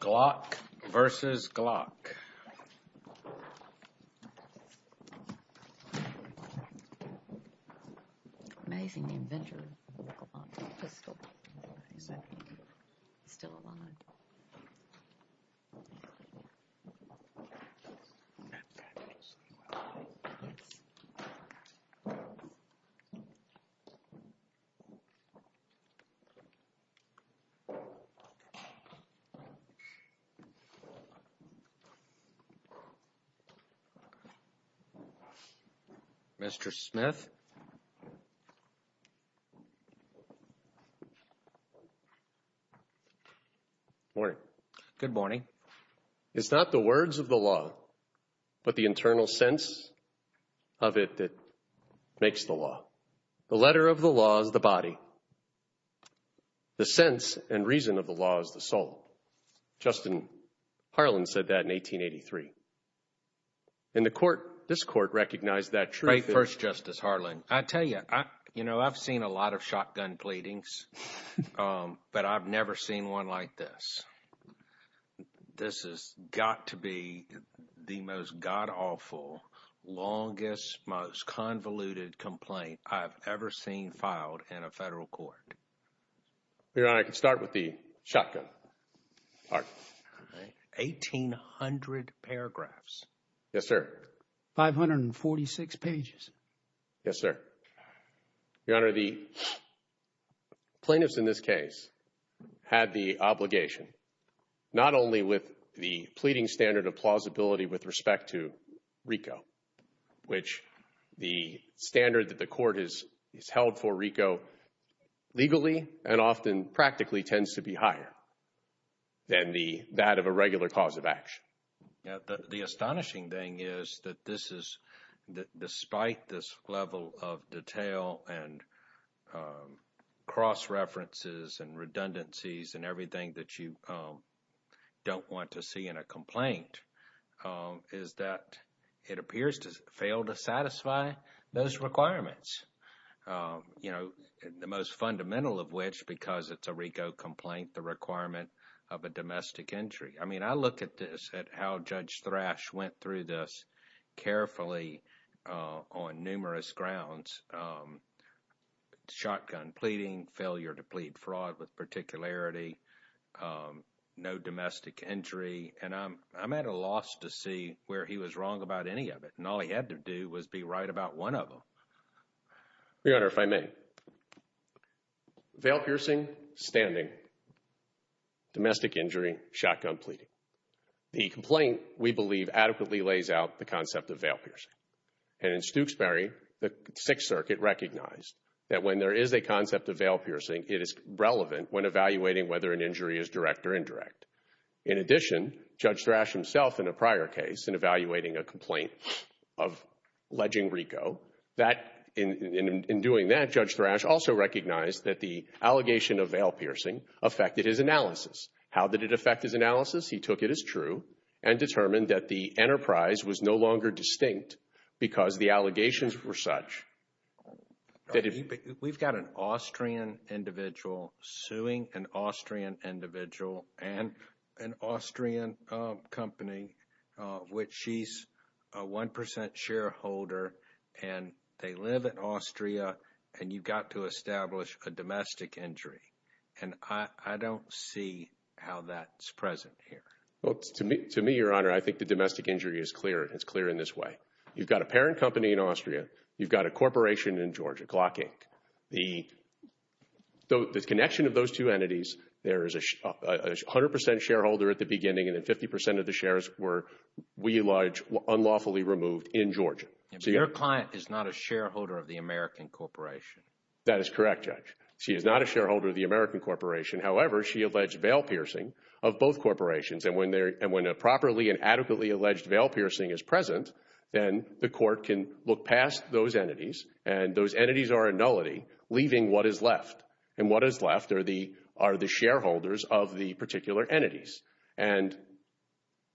Glock vs. Glock. Amazing inventor of the pistol. Still alive. Mr. Smith. Morning. Good morning. It's not the words of the law, but the internal sense of it that makes the law. The letter of the law is the body. The sense and reason of the law is the soul. Justin Harlan said that in 1883. In the court, this court recognized that truth. First, Justice Harlan. I tell you, you know, I've seen a lot of shotgun pleadings, but I've never seen one like this. This is got to be the most God awful, longest, most convoluted complaint I've ever seen filed in a federal court. I can start with the shotgun. 1800 paragraphs. Yes, sir. 546 pages. Yes, sir. Your Honor, the plaintiffs in this case had the obligation, not only with the pleading standard of plausibility with respect to Rico, which the standard that the court is held for Rico legally and often practically tends to be higher than the that of a regular cause of action. The astonishing thing is that this is, despite this level of detail and cross references and redundancies and everything that you don't want to see in a complaint, is that it appears to fail to satisfy those requirements. You know, the most fundamental of which, because it's a Rico complaint, the requirement of a domestic injury. I mean, I look at this at how Judge Thrash went through this carefully on numerous grounds. Shotgun pleading, failure to plead fraud with particularity, no domestic injury. And I'm at a loss to see where he was wrong about any of it. And all he had to do was be right about one of them. Your Honor, if I may. Veil piercing, standing, domestic injury, shotgun pleading. The complaint, we believe, adequately lays out the concept of veil piercing. And in Stooksbury, the Sixth Circuit recognized that when there is a concept of veil piercing, it is relevant when evaluating whether an injury is direct or indirect. In addition, Judge Thrash himself, in a prior case, in evaluating a complaint alleging Rico, in doing that, Judge Thrash also recognized that the allegation of veil piercing affected his analysis. How did it affect his analysis? He took it as true and determined that the enterprise was no longer distinct because the allegations were such. We've got an Austrian individual suing an Austrian individual and an Austrian company, which she's a 1% shareholder. And they live in Austria. And you've got to establish a domestic injury. And I don't see how that's present here. Well, to me, Your Honor, I think the domestic injury is clear. It's clear in this way. You've got a parent company in Austria. You've got a corporation in Georgia, Glockink. The connection of those two entities, there is a 100% shareholder at the beginning. And then 50% of the shares were, we allege, unlawfully removed in Georgia. And their client is not a shareholder of the American corporation. That is correct, Judge. She is not a shareholder of the American corporation. However, she alleged veil piercing of both corporations. And when a properly and adequately alleged veil piercing is present, then the court can look past those entities. And those entities are a nullity, leaving what is left. And what is left are the shareholders of the particular entities. And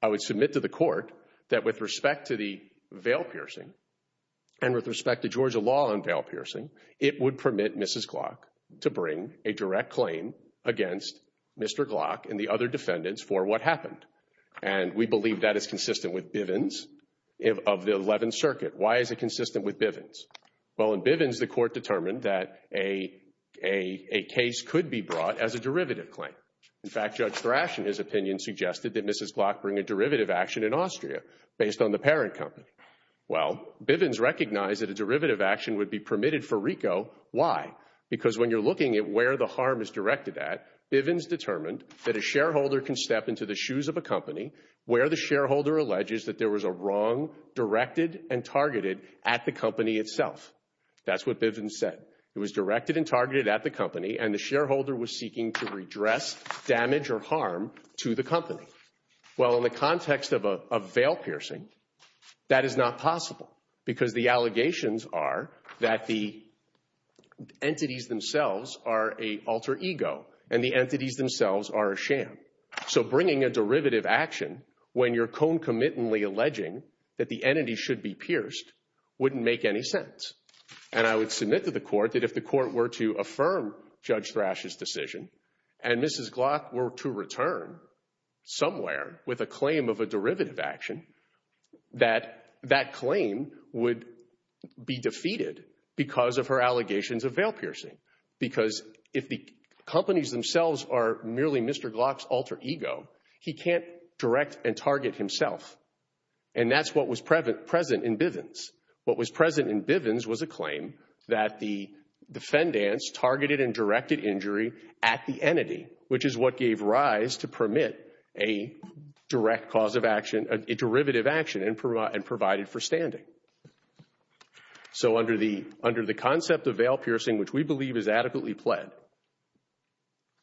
I would submit to the court that with respect to the veil piercing and with respect to Georgia law on veil piercing, it would permit Mrs. Glock to bring a direct claim against Mr. Glock and the other defendants for what happened. And we believe that is consistent with Bivens of the 11th Circuit. Why is it consistent with Bivens? Well, in Bivens, the court determined that a case could be brought as a derivative claim. In fact, Judge Thrash, in his opinion, suggested that Mrs. Glock bring a derivative action in Austria based on the parent company. Well, Bivens recognized that a derivative action would be permitted for RICO. Why? Because when you're looking at where the harm is directed at, Bivens determined that a shareholder can step into the shoes of a company where the shareholder alleges that there was a wrong directed and targeted at the company itself. That's what Bivens said. It was directed and targeted at the company, and the shareholder was seeking to redress damage or harm to the company. Well, in the context of a veil piercing, that is not possible because the allegations are that the entities themselves are a alter ego, and the entities themselves are a sham. So bringing a derivative action when you're concomitantly alleging that the entity should be pierced wouldn't make any sense. And I would submit to the court that if the court were to affirm Judge Thrash's decision and Mrs. Glock were to return somewhere with a claim of a derivative action, that that claim would be defeated because of her allegations of veil piercing. Because if the companies themselves are merely Mr. Glock's alter ego, he can't direct and target himself. And that's what was present in Bivens. What was present in Bivens was a claim that the defendants targeted and directed injury at the entity, which is what gave rise to permit a direct cause of action, a derivative action, and provided for standing. So under the concept of veil piercing, which we believe is adequately pled,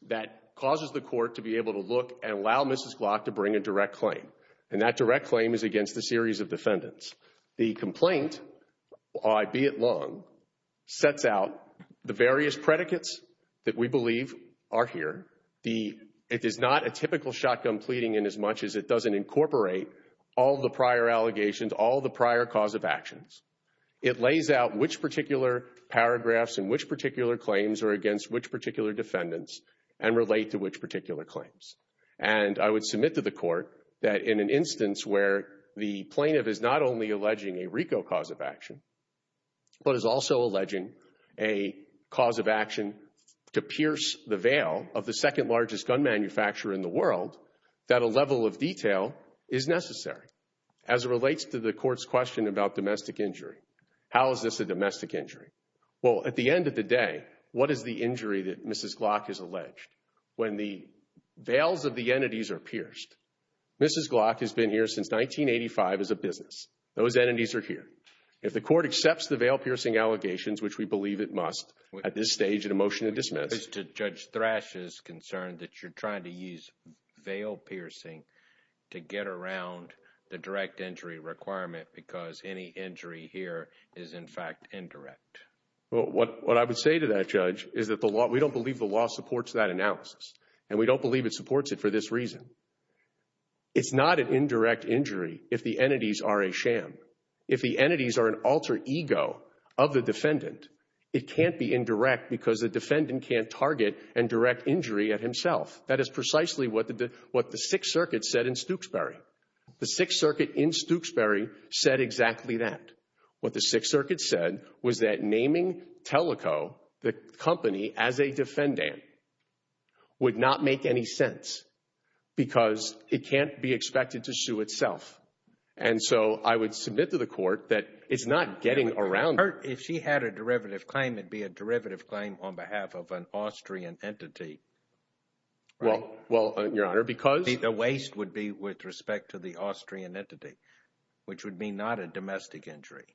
that causes the court to be able to look and allow Mrs. Glock to bring a direct claim. And that direct claim is against a series of defendants. The complaint, albeit long, sets out the various predicates that we believe are here. It is not a typical shotgun pleading in as much as it doesn't incorporate all the prior allegations, all the prior cause of actions. It lays out which particular paragraphs and which particular claims are against which particular defendants and relate to which particular claims. And I would submit to the court that in an instance where the plaintiff is not only alleging a RICO cause of action, but is also alleging a cause of action to pierce the veil of the second largest gun manufacturer in the world, that a level of detail is necessary. As it relates to the court's question about domestic injury, how is this a domestic injury? Well, at the end of the day, what is the injury that Mrs. Glock has alleged? When the veils of the entities are pierced, Mrs. Glock has been here since 1985 as a business. Those entities are here. If the court accepts the veil-piercing allegations, which we believe it must, at this stage, in a motion to dismiss. Judge Thrash is concerned that you're trying to use veil-piercing to get around the direct injury requirement What I would say to that, Judge, is that we don't believe the law supports that analysis. And we don't believe it supports it for this reason. It's not an indirect injury if the entities are a sham. If the entities are an alter ego of the defendant, it can't be indirect because the defendant can't target and direct injury at himself. That is precisely what the Sixth Circuit said in Stokesbury. The Sixth Circuit in Stokesbury said exactly that. What the Sixth Circuit said was that naming Teleco, the company, as a defendant would not make any sense because it can't be expected to sue itself. And so I would submit to the court that it's not getting around. If she had a derivative claim, it'd be a derivative claim on behalf of an Austrian entity. Well, Your Honor, because The waste would be with respect to the Austrian entity, which would be not a domestic injury.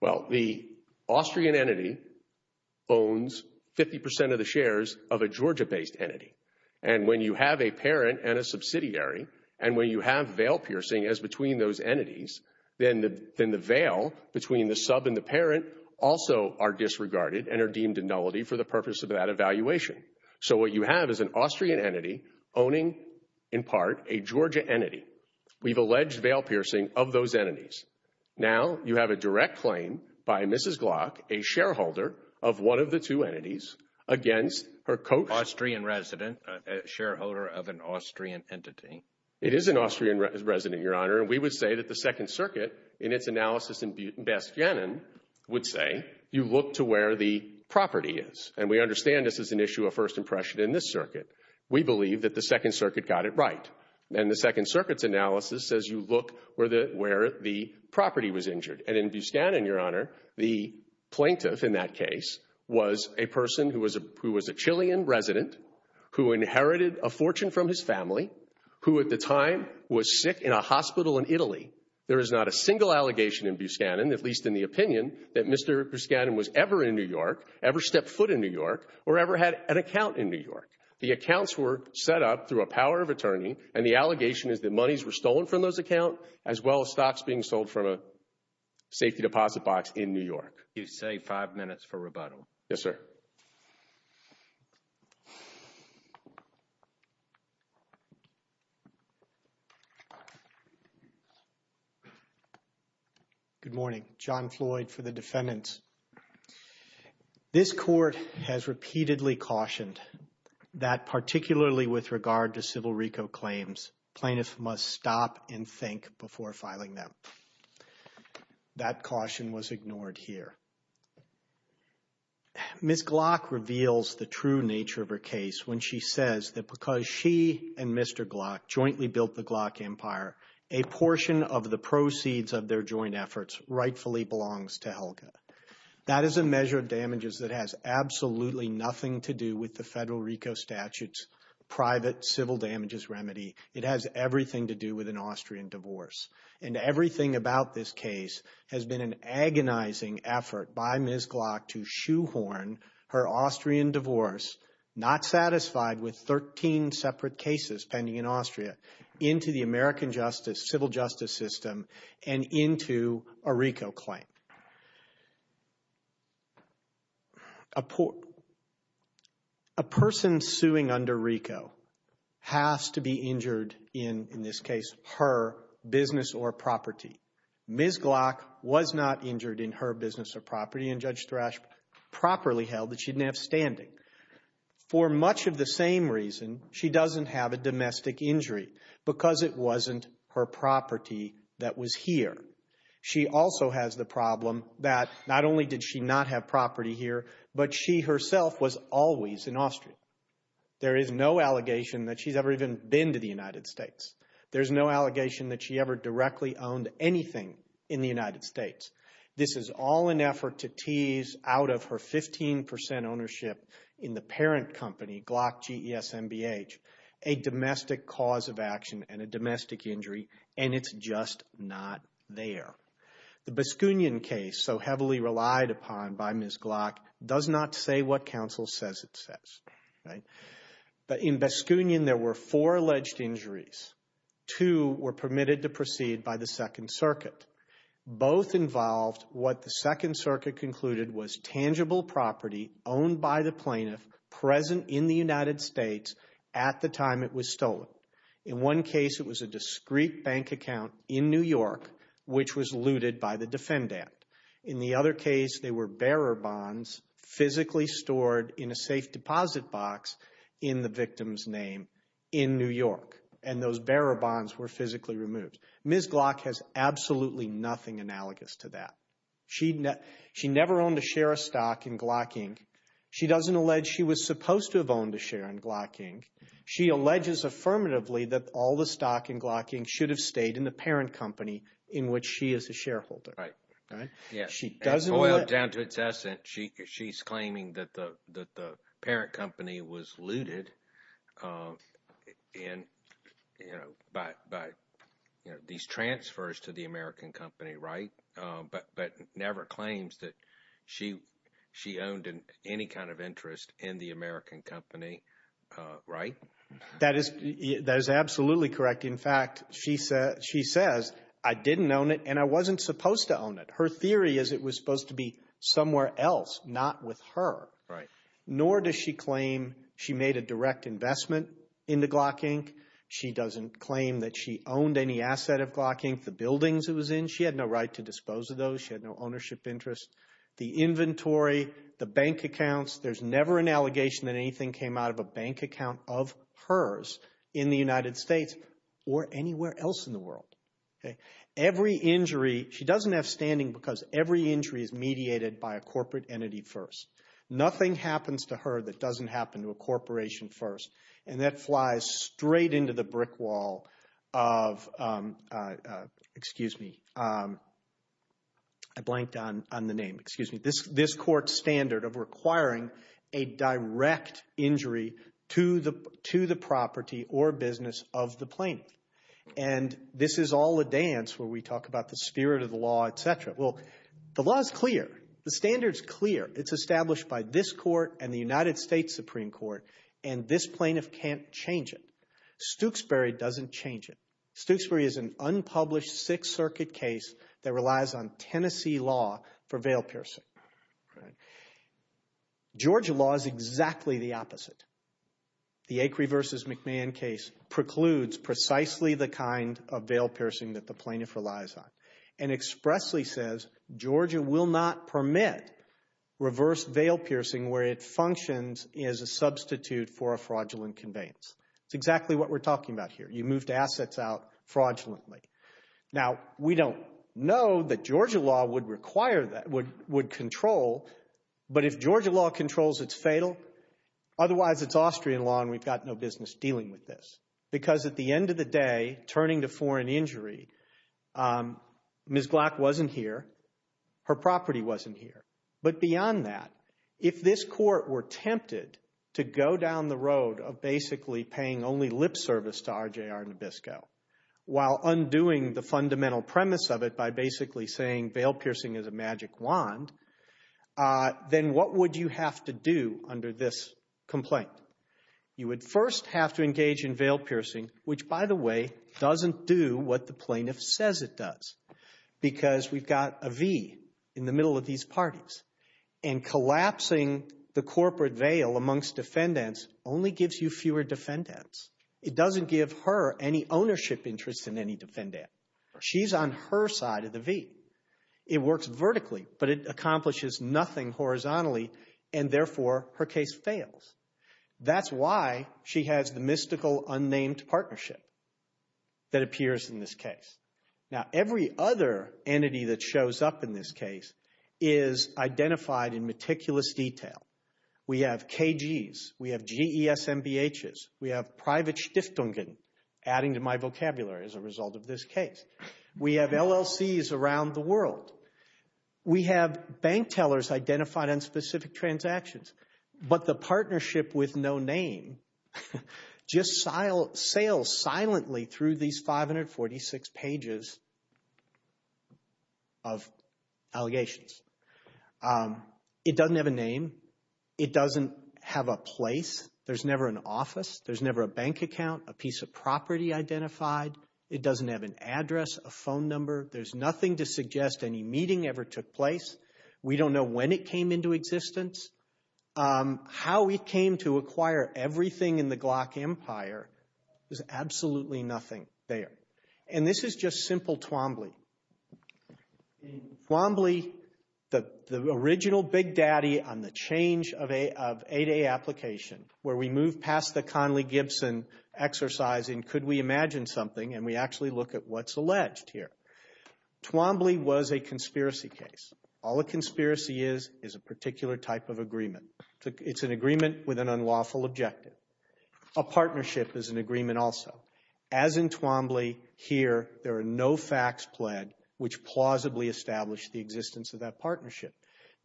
Well, the Austrian entity owns 50% of the shares of a Georgia-based entity. And when you have a parent and a subsidiary, and when you have veil-piercing as between those entities, then the veil between the sub and the parent also are disregarded and are deemed a nullity for the purpose of that evaluation. So what you have is an Austrian entity owning, in part, a Georgia entity. We've alleged veil-piercing of those entities. Now you have a direct claim by Mrs. Glock, a shareholder of one of the two entities, against her co- Austrian resident, a shareholder of an Austrian entity. It is an Austrian resident, Your Honor. And we would say that the Second Circuit, in its analysis in Bastianen, would say you look to where the property is. And we understand this is an issue of first impression in this circuit. We believe that the Second Circuit got it right. And the Second Circuit's analysis says you look where the property was injured. And in Bastianen, Your Honor, the plaintiff in that case was a person who was a Chilean resident, who inherited a fortune from his family, who at the time was sick in a hospital in Italy. There is not a single allegation in Bustanen, at least in the opinion, that Mr. Bustanen was ever in New York, ever stepped foot in New York, or ever had an account in New York. The accounts were set up through a power of attorney. And the allegation is that monies were stolen from those accounts as well as stocks being sold from a safety deposit box in New York. You say five minutes for rebuttal. Yes, sir. Good morning. John Floyd for the defendants. This court has repeatedly cautioned that particularly with regard to Civil RICO claims, plaintiffs must stop and think before filing them. That caution was ignored here. Ms. Glock reveals the true nature of her case when she says that because she and Mr. Glock jointly built the Glock empire, a portion of the proceeds of their joint efforts rightfully belongs to Helga. That is a measure of damages that has absolutely nothing to do with the Federal RICO statute's private civil damages remedy. It has everything to do with an Austrian divorce. And everything about this case has been an agonizing effort by Ms. Glock to shoehorn her Austrian divorce, not satisfied with 13 separate cases pending in Austria, into the American civil justice system and into a RICO claim. A person suing under RICO has to be injured in, in this case, her business or property. Ms. Glock was not injured in her business or property, and Judge Thrash properly held that she didn't have standing. For much of the same reason, she doesn't have a domestic injury, because it wasn't her property that was here. She also has the problem that not only did she not have property here, but she herself was always in Austria. There is no allegation that she's ever even been to the United States. There's no allegation that she ever directly owned anything in the United States. This is all an effort to tease out of her 15% ownership in the parent company, Glock G-E-S-M-B-H, a domestic cause of action and a domestic injury, and it's just not there. The Baskunin case, so heavily relied upon by Ms. Glock, does not say what counsel says it says. In Baskunin, there were four alleged injuries. Two were permitted to proceed by the Second Circuit. Both involved what the Second Circuit concluded was tangible property owned by the plaintiff, present in the United States at the time it was stolen. In one case, it was a discreet bank account in New York, which was looted by the defendant. In the other case, they were bearer bonds physically stored in a safe deposit box in the victim's name in New York, and those bearer bonds were physically removed. Ms. Glock has absolutely nothing analogous to that. She never owned a share of stock in Glock, Inc. She doesn't allege she was supposed to have owned a share in Glock, Inc. She alleges affirmatively that all the stock in Glock, Inc. should have stayed in the parent company in which she is a shareholder. Right. She doesn't let – Down to its essence, she's claiming that the parent company was looted by these transfers to the American company, right? But never claims that she owned any kind of interest in the American company, right? That is absolutely correct. In fact, she says, I didn't own it and I wasn't supposed to own it. Her theory is it was supposed to be somewhere else, not with her. Right. Nor does she claim she made a direct investment into Glock, Inc. She doesn't claim that she owned any asset of Glock, Inc., the buildings it was in. She had no right to dispose of those. She had no ownership interest. The inventory, the bank accounts, there's never an allegation that anything came out of a bank account of hers in the United States. Or anywhere else in the world. Okay. Every injury – she doesn't have standing because every injury is mediated by a corporate entity first. Nothing happens to her that doesn't happen to a corporation first. And that flies straight into the brick wall of – excuse me. I blanked on the name. Excuse me. This court standard of requiring a direct injury to the property or business of the plaintiff. And this is all a dance where we talk about the spirit of the law, et cetera. Well, the law is clear. The standard is clear. It's established by this court and the United States Supreme Court, and this plaintiff can't change it. Stokesbury doesn't change it. Stokesbury is an unpublished Sixth Circuit case that relies on Tennessee law for veil piercing. Georgia law is exactly the opposite. The Acri versus McMahon case precludes precisely the kind of veil piercing that the plaintiff relies on. And expressly says Georgia will not permit reverse veil piercing where it functions as a substitute for a fraudulent conveyance. It's exactly what we're talking about here. You move the assets out fraudulently. Now, we don't know that Georgia law would require that, would control. But if Georgia law controls, it's fatal. Otherwise, it's Austrian law and we've got no business dealing with this. Because at the end of the day, turning to foreign injury, Ms. Glock wasn't here. Her property wasn't here. But beyond that, if this court were tempted to go down the road of basically paying only lip service to RJR Nabisco, while undoing the fundamental premise of it by basically saying veil piercing is a magic wand, then what would you have to do under this complaint? You would first have to engage in veil piercing, which, by the way, doesn't do what the plaintiff says it does. Because we've got a V in the middle of these parties. And collapsing the corporate veil amongst defendants only gives you fewer defendants. It doesn't give her any ownership interest in any defendant. She's on her side of the V. It works vertically, but it accomplishes nothing horizontally. And therefore, her case fails. That's why she has the mystical unnamed partnership that appears in this case. Now, every other entity that shows up in this case is identified in meticulous detail. We have KGs. We have GESMBHs. We have private Stiftungen, adding to my vocabulary as a result of this case. We have LLCs around the world. We have bank tellers identified on specific transactions. But the partnership with no name just sails silently through these 546 pages of allegations. It doesn't have a name. It doesn't have a place. There's never an office. There's never a bank account, a piece of property identified. It doesn't have an address, a phone number. There's nothing to suggest any meeting ever took place. We don't know when it came into existence. How it came to acquire everything in the Glock Empire is absolutely nothing there. And this is just simple Twombly. Twombly, the original big daddy on the change of 8A application, where we move past the Conley-Gibson exercise in could we imagine something, and we actually look at what's alleged here. Twombly was a conspiracy case. All a conspiracy is is a particular type of agreement. It's an agreement with an unlawful objective. A partnership is an agreement also. As in Twombly, here there are no facts pled which plausibly establish the existence of that partnership.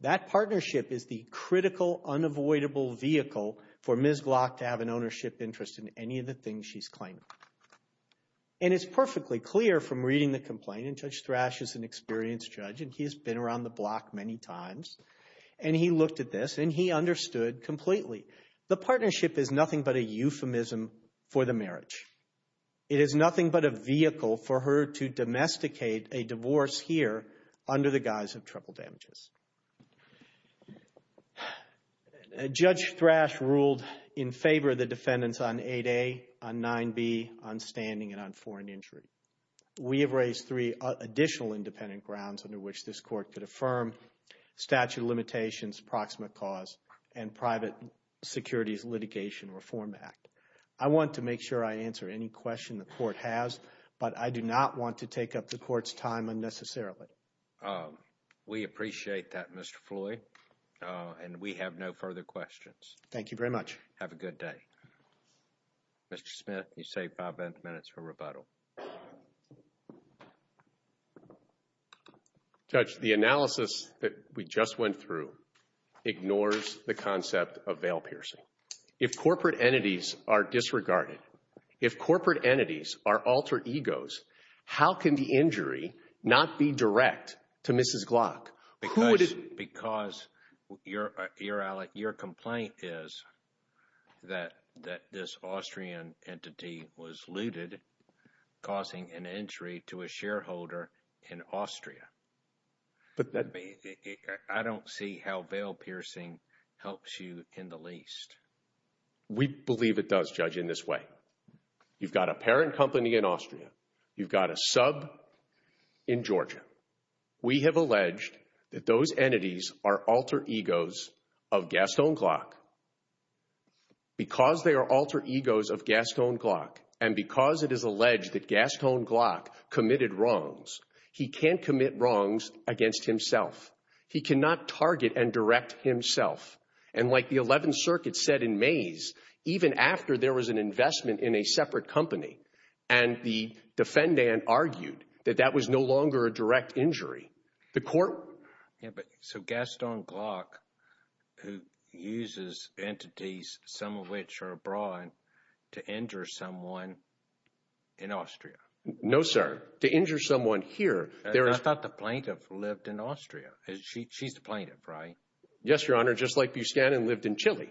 That partnership is the critical, unavoidable vehicle for Ms. Glock to have an ownership interest in any of the things she's claiming. And it's perfectly clear from reading the complaint, and Judge Thrash is an experienced judge, and he's been around the Glock many times, and he looked at this, and he understood completely. The partnership is nothing but a euphemism for the marriage. It is nothing but a vehicle for her to domesticate a divorce here under the guise of treble damages. Judge Thrash ruled in favor of the defendants on 8A, on 9B, on standing, and on foreign injury. We have raised three additional independent grounds under which this court could affirm statute of limitations, proximate cause, and private securities litigation reform act. I want to make sure I answer any question the court has, but I do not want to take up the court's time unnecessarily. We appreciate that, Mr. Floyd, and we have no further questions. Thank you very much. Have a good day. Mr. Smith, you save five minutes for rebuttal. Judge, the analysis that we just went through ignores the concept of veil piercing. If corporate entities are disregarded, if corporate entities are altered egos, how can the injury not be direct to Mrs. Glock? Because your complaint is that this Austrian entity was looted, causing an injury to a shareholder in Austria. I don't see how veil piercing helps you in the least. We believe it does, Judge, in this way. You've got a parent company in Austria. You've got a sub in Georgia. We have alleged that those entities are altered egos of Gaston Glock. Because they are altered egos of Gaston Glock, and because it is alleged that Gaston Glock committed wrongs, he can't commit wrongs against himself. He cannot target and direct himself. And like the Eleventh Circuit said in Mays, even after there was an investment in a separate company, and the defendant argued that that was no longer a direct injury, the court— Yeah, but so Gaston Glock, who uses entities, some of which are abroad, to injure someone in Austria. No, sir. To injure someone here, there is— I thought the plaintiff lived in Austria. She's the plaintiff, right? Yes, Your Honor, just like Buscanin lived in Chile.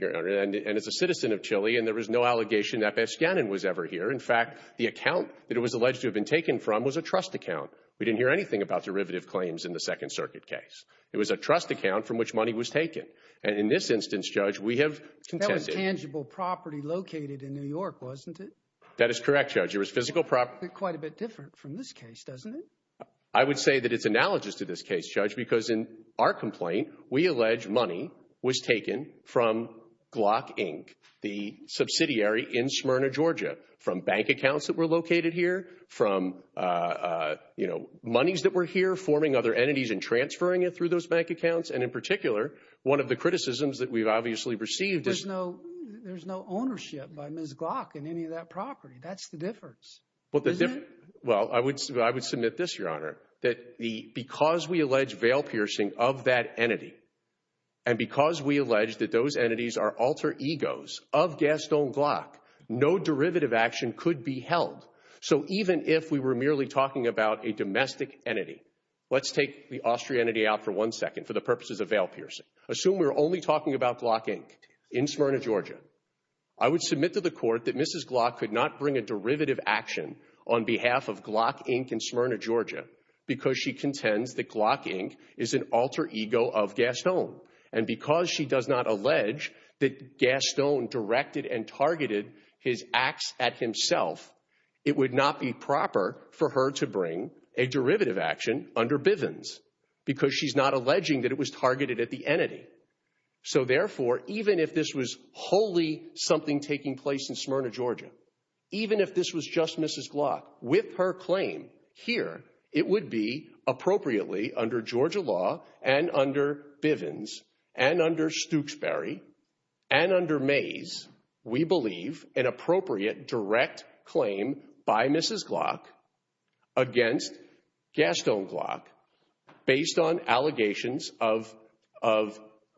And is a citizen of Chile, and there was no allegation that Buscanin was ever here. In fact, the account that it was alleged to have been taken from was a trust account. We didn't hear anything about derivative claims in the Second Circuit case. It was a trust account from which money was taken. And in this instance, Judge, we have contended— That was tangible property located in New York, wasn't it? That is correct, Judge. It was physical property. Quite a bit different from this case, doesn't it? I would say that it's analogous to this case, Judge, because in our complaint, we allege money was taken from Glock, Inc., the subsidiary in Schmyrna, Georgia, from bank accounts that were located here, from, you know, monies that were here forming other entities and transferring it through those bank accounts. And in particular, one of the criticisms that we've obviously received is— There's no ownership by Ms. Glock in any of that property. That's the difference, isn't it? Well, I would submit this, Your Honor, that because we allege veil-piercing of that entity and because we allege that those entities are alter egos of Gastone Glock, no derivative action could be held. So even if we were merely talking about a domestic entity— Let's take the Austrian entity out for one second for the purposes of veil-piercing. Assume we're only talking about Glock, Inc. in Schmyrna, Georgia. I would submit to the court that Mrs. Glock could not bring a derivative action on behalf of Glock, Inc. in Schmyrna, Georgia, because she contends that Glock, Inc. is an alter ego of Gastone. And because she does not allege that Gastone directed and targeted his acts at himself, it would not be proper for her to bring a derivative action under Bivens because she's not alleging that it was targeted at the entity. So therefore, even if this was wholly something taking place in Schmyrna, Georgia, even if this was just Mrs. Glock with her claim here, it would be appropriately under Georgia law and under Bivens and under Stooksbury and under Mays, we believe an appropriate direct claim by Mrs. Glock against Gastone Glock based on allegations of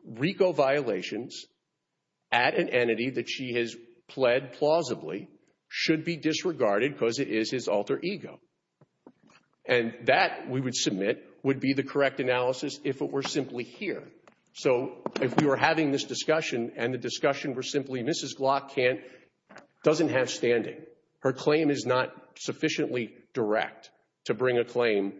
RICO violations at an entity that she has pled plausibly should be disregarded because it is his alter ego. And that, we would submit, would be the correct analysis if it were simply here. So if we were having this discussion and the discussion were simply, Mrs. Glock doesn't have standing, her claim is not sufficiently direct to bring a claim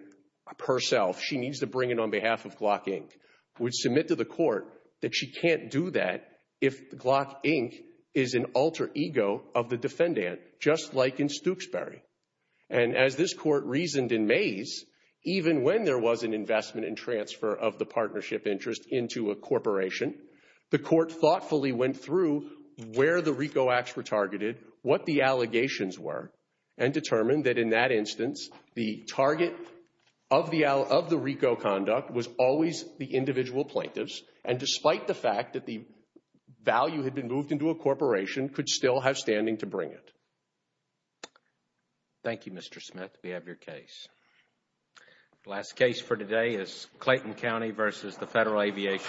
herself. She needs to bring it on behalf of Glock, Inc. We'd submit to the court that she can't do that if Glock, Inc. is an alter ego of the defendant, just like in Stooksbury. And as this court reasoned in Mays, even when there was an investment and transfer of the partnership interest into a corporation, what the allegations were and determined that, in that instance, the target of the RICO conduct was always the individual plaintiffs, and despite the fact that the value had been moved into a corporation, could still have standing to bring it. Thank you, Mr. Smith. We have your case. The last case for today is Clayton County v. Federal Aviation.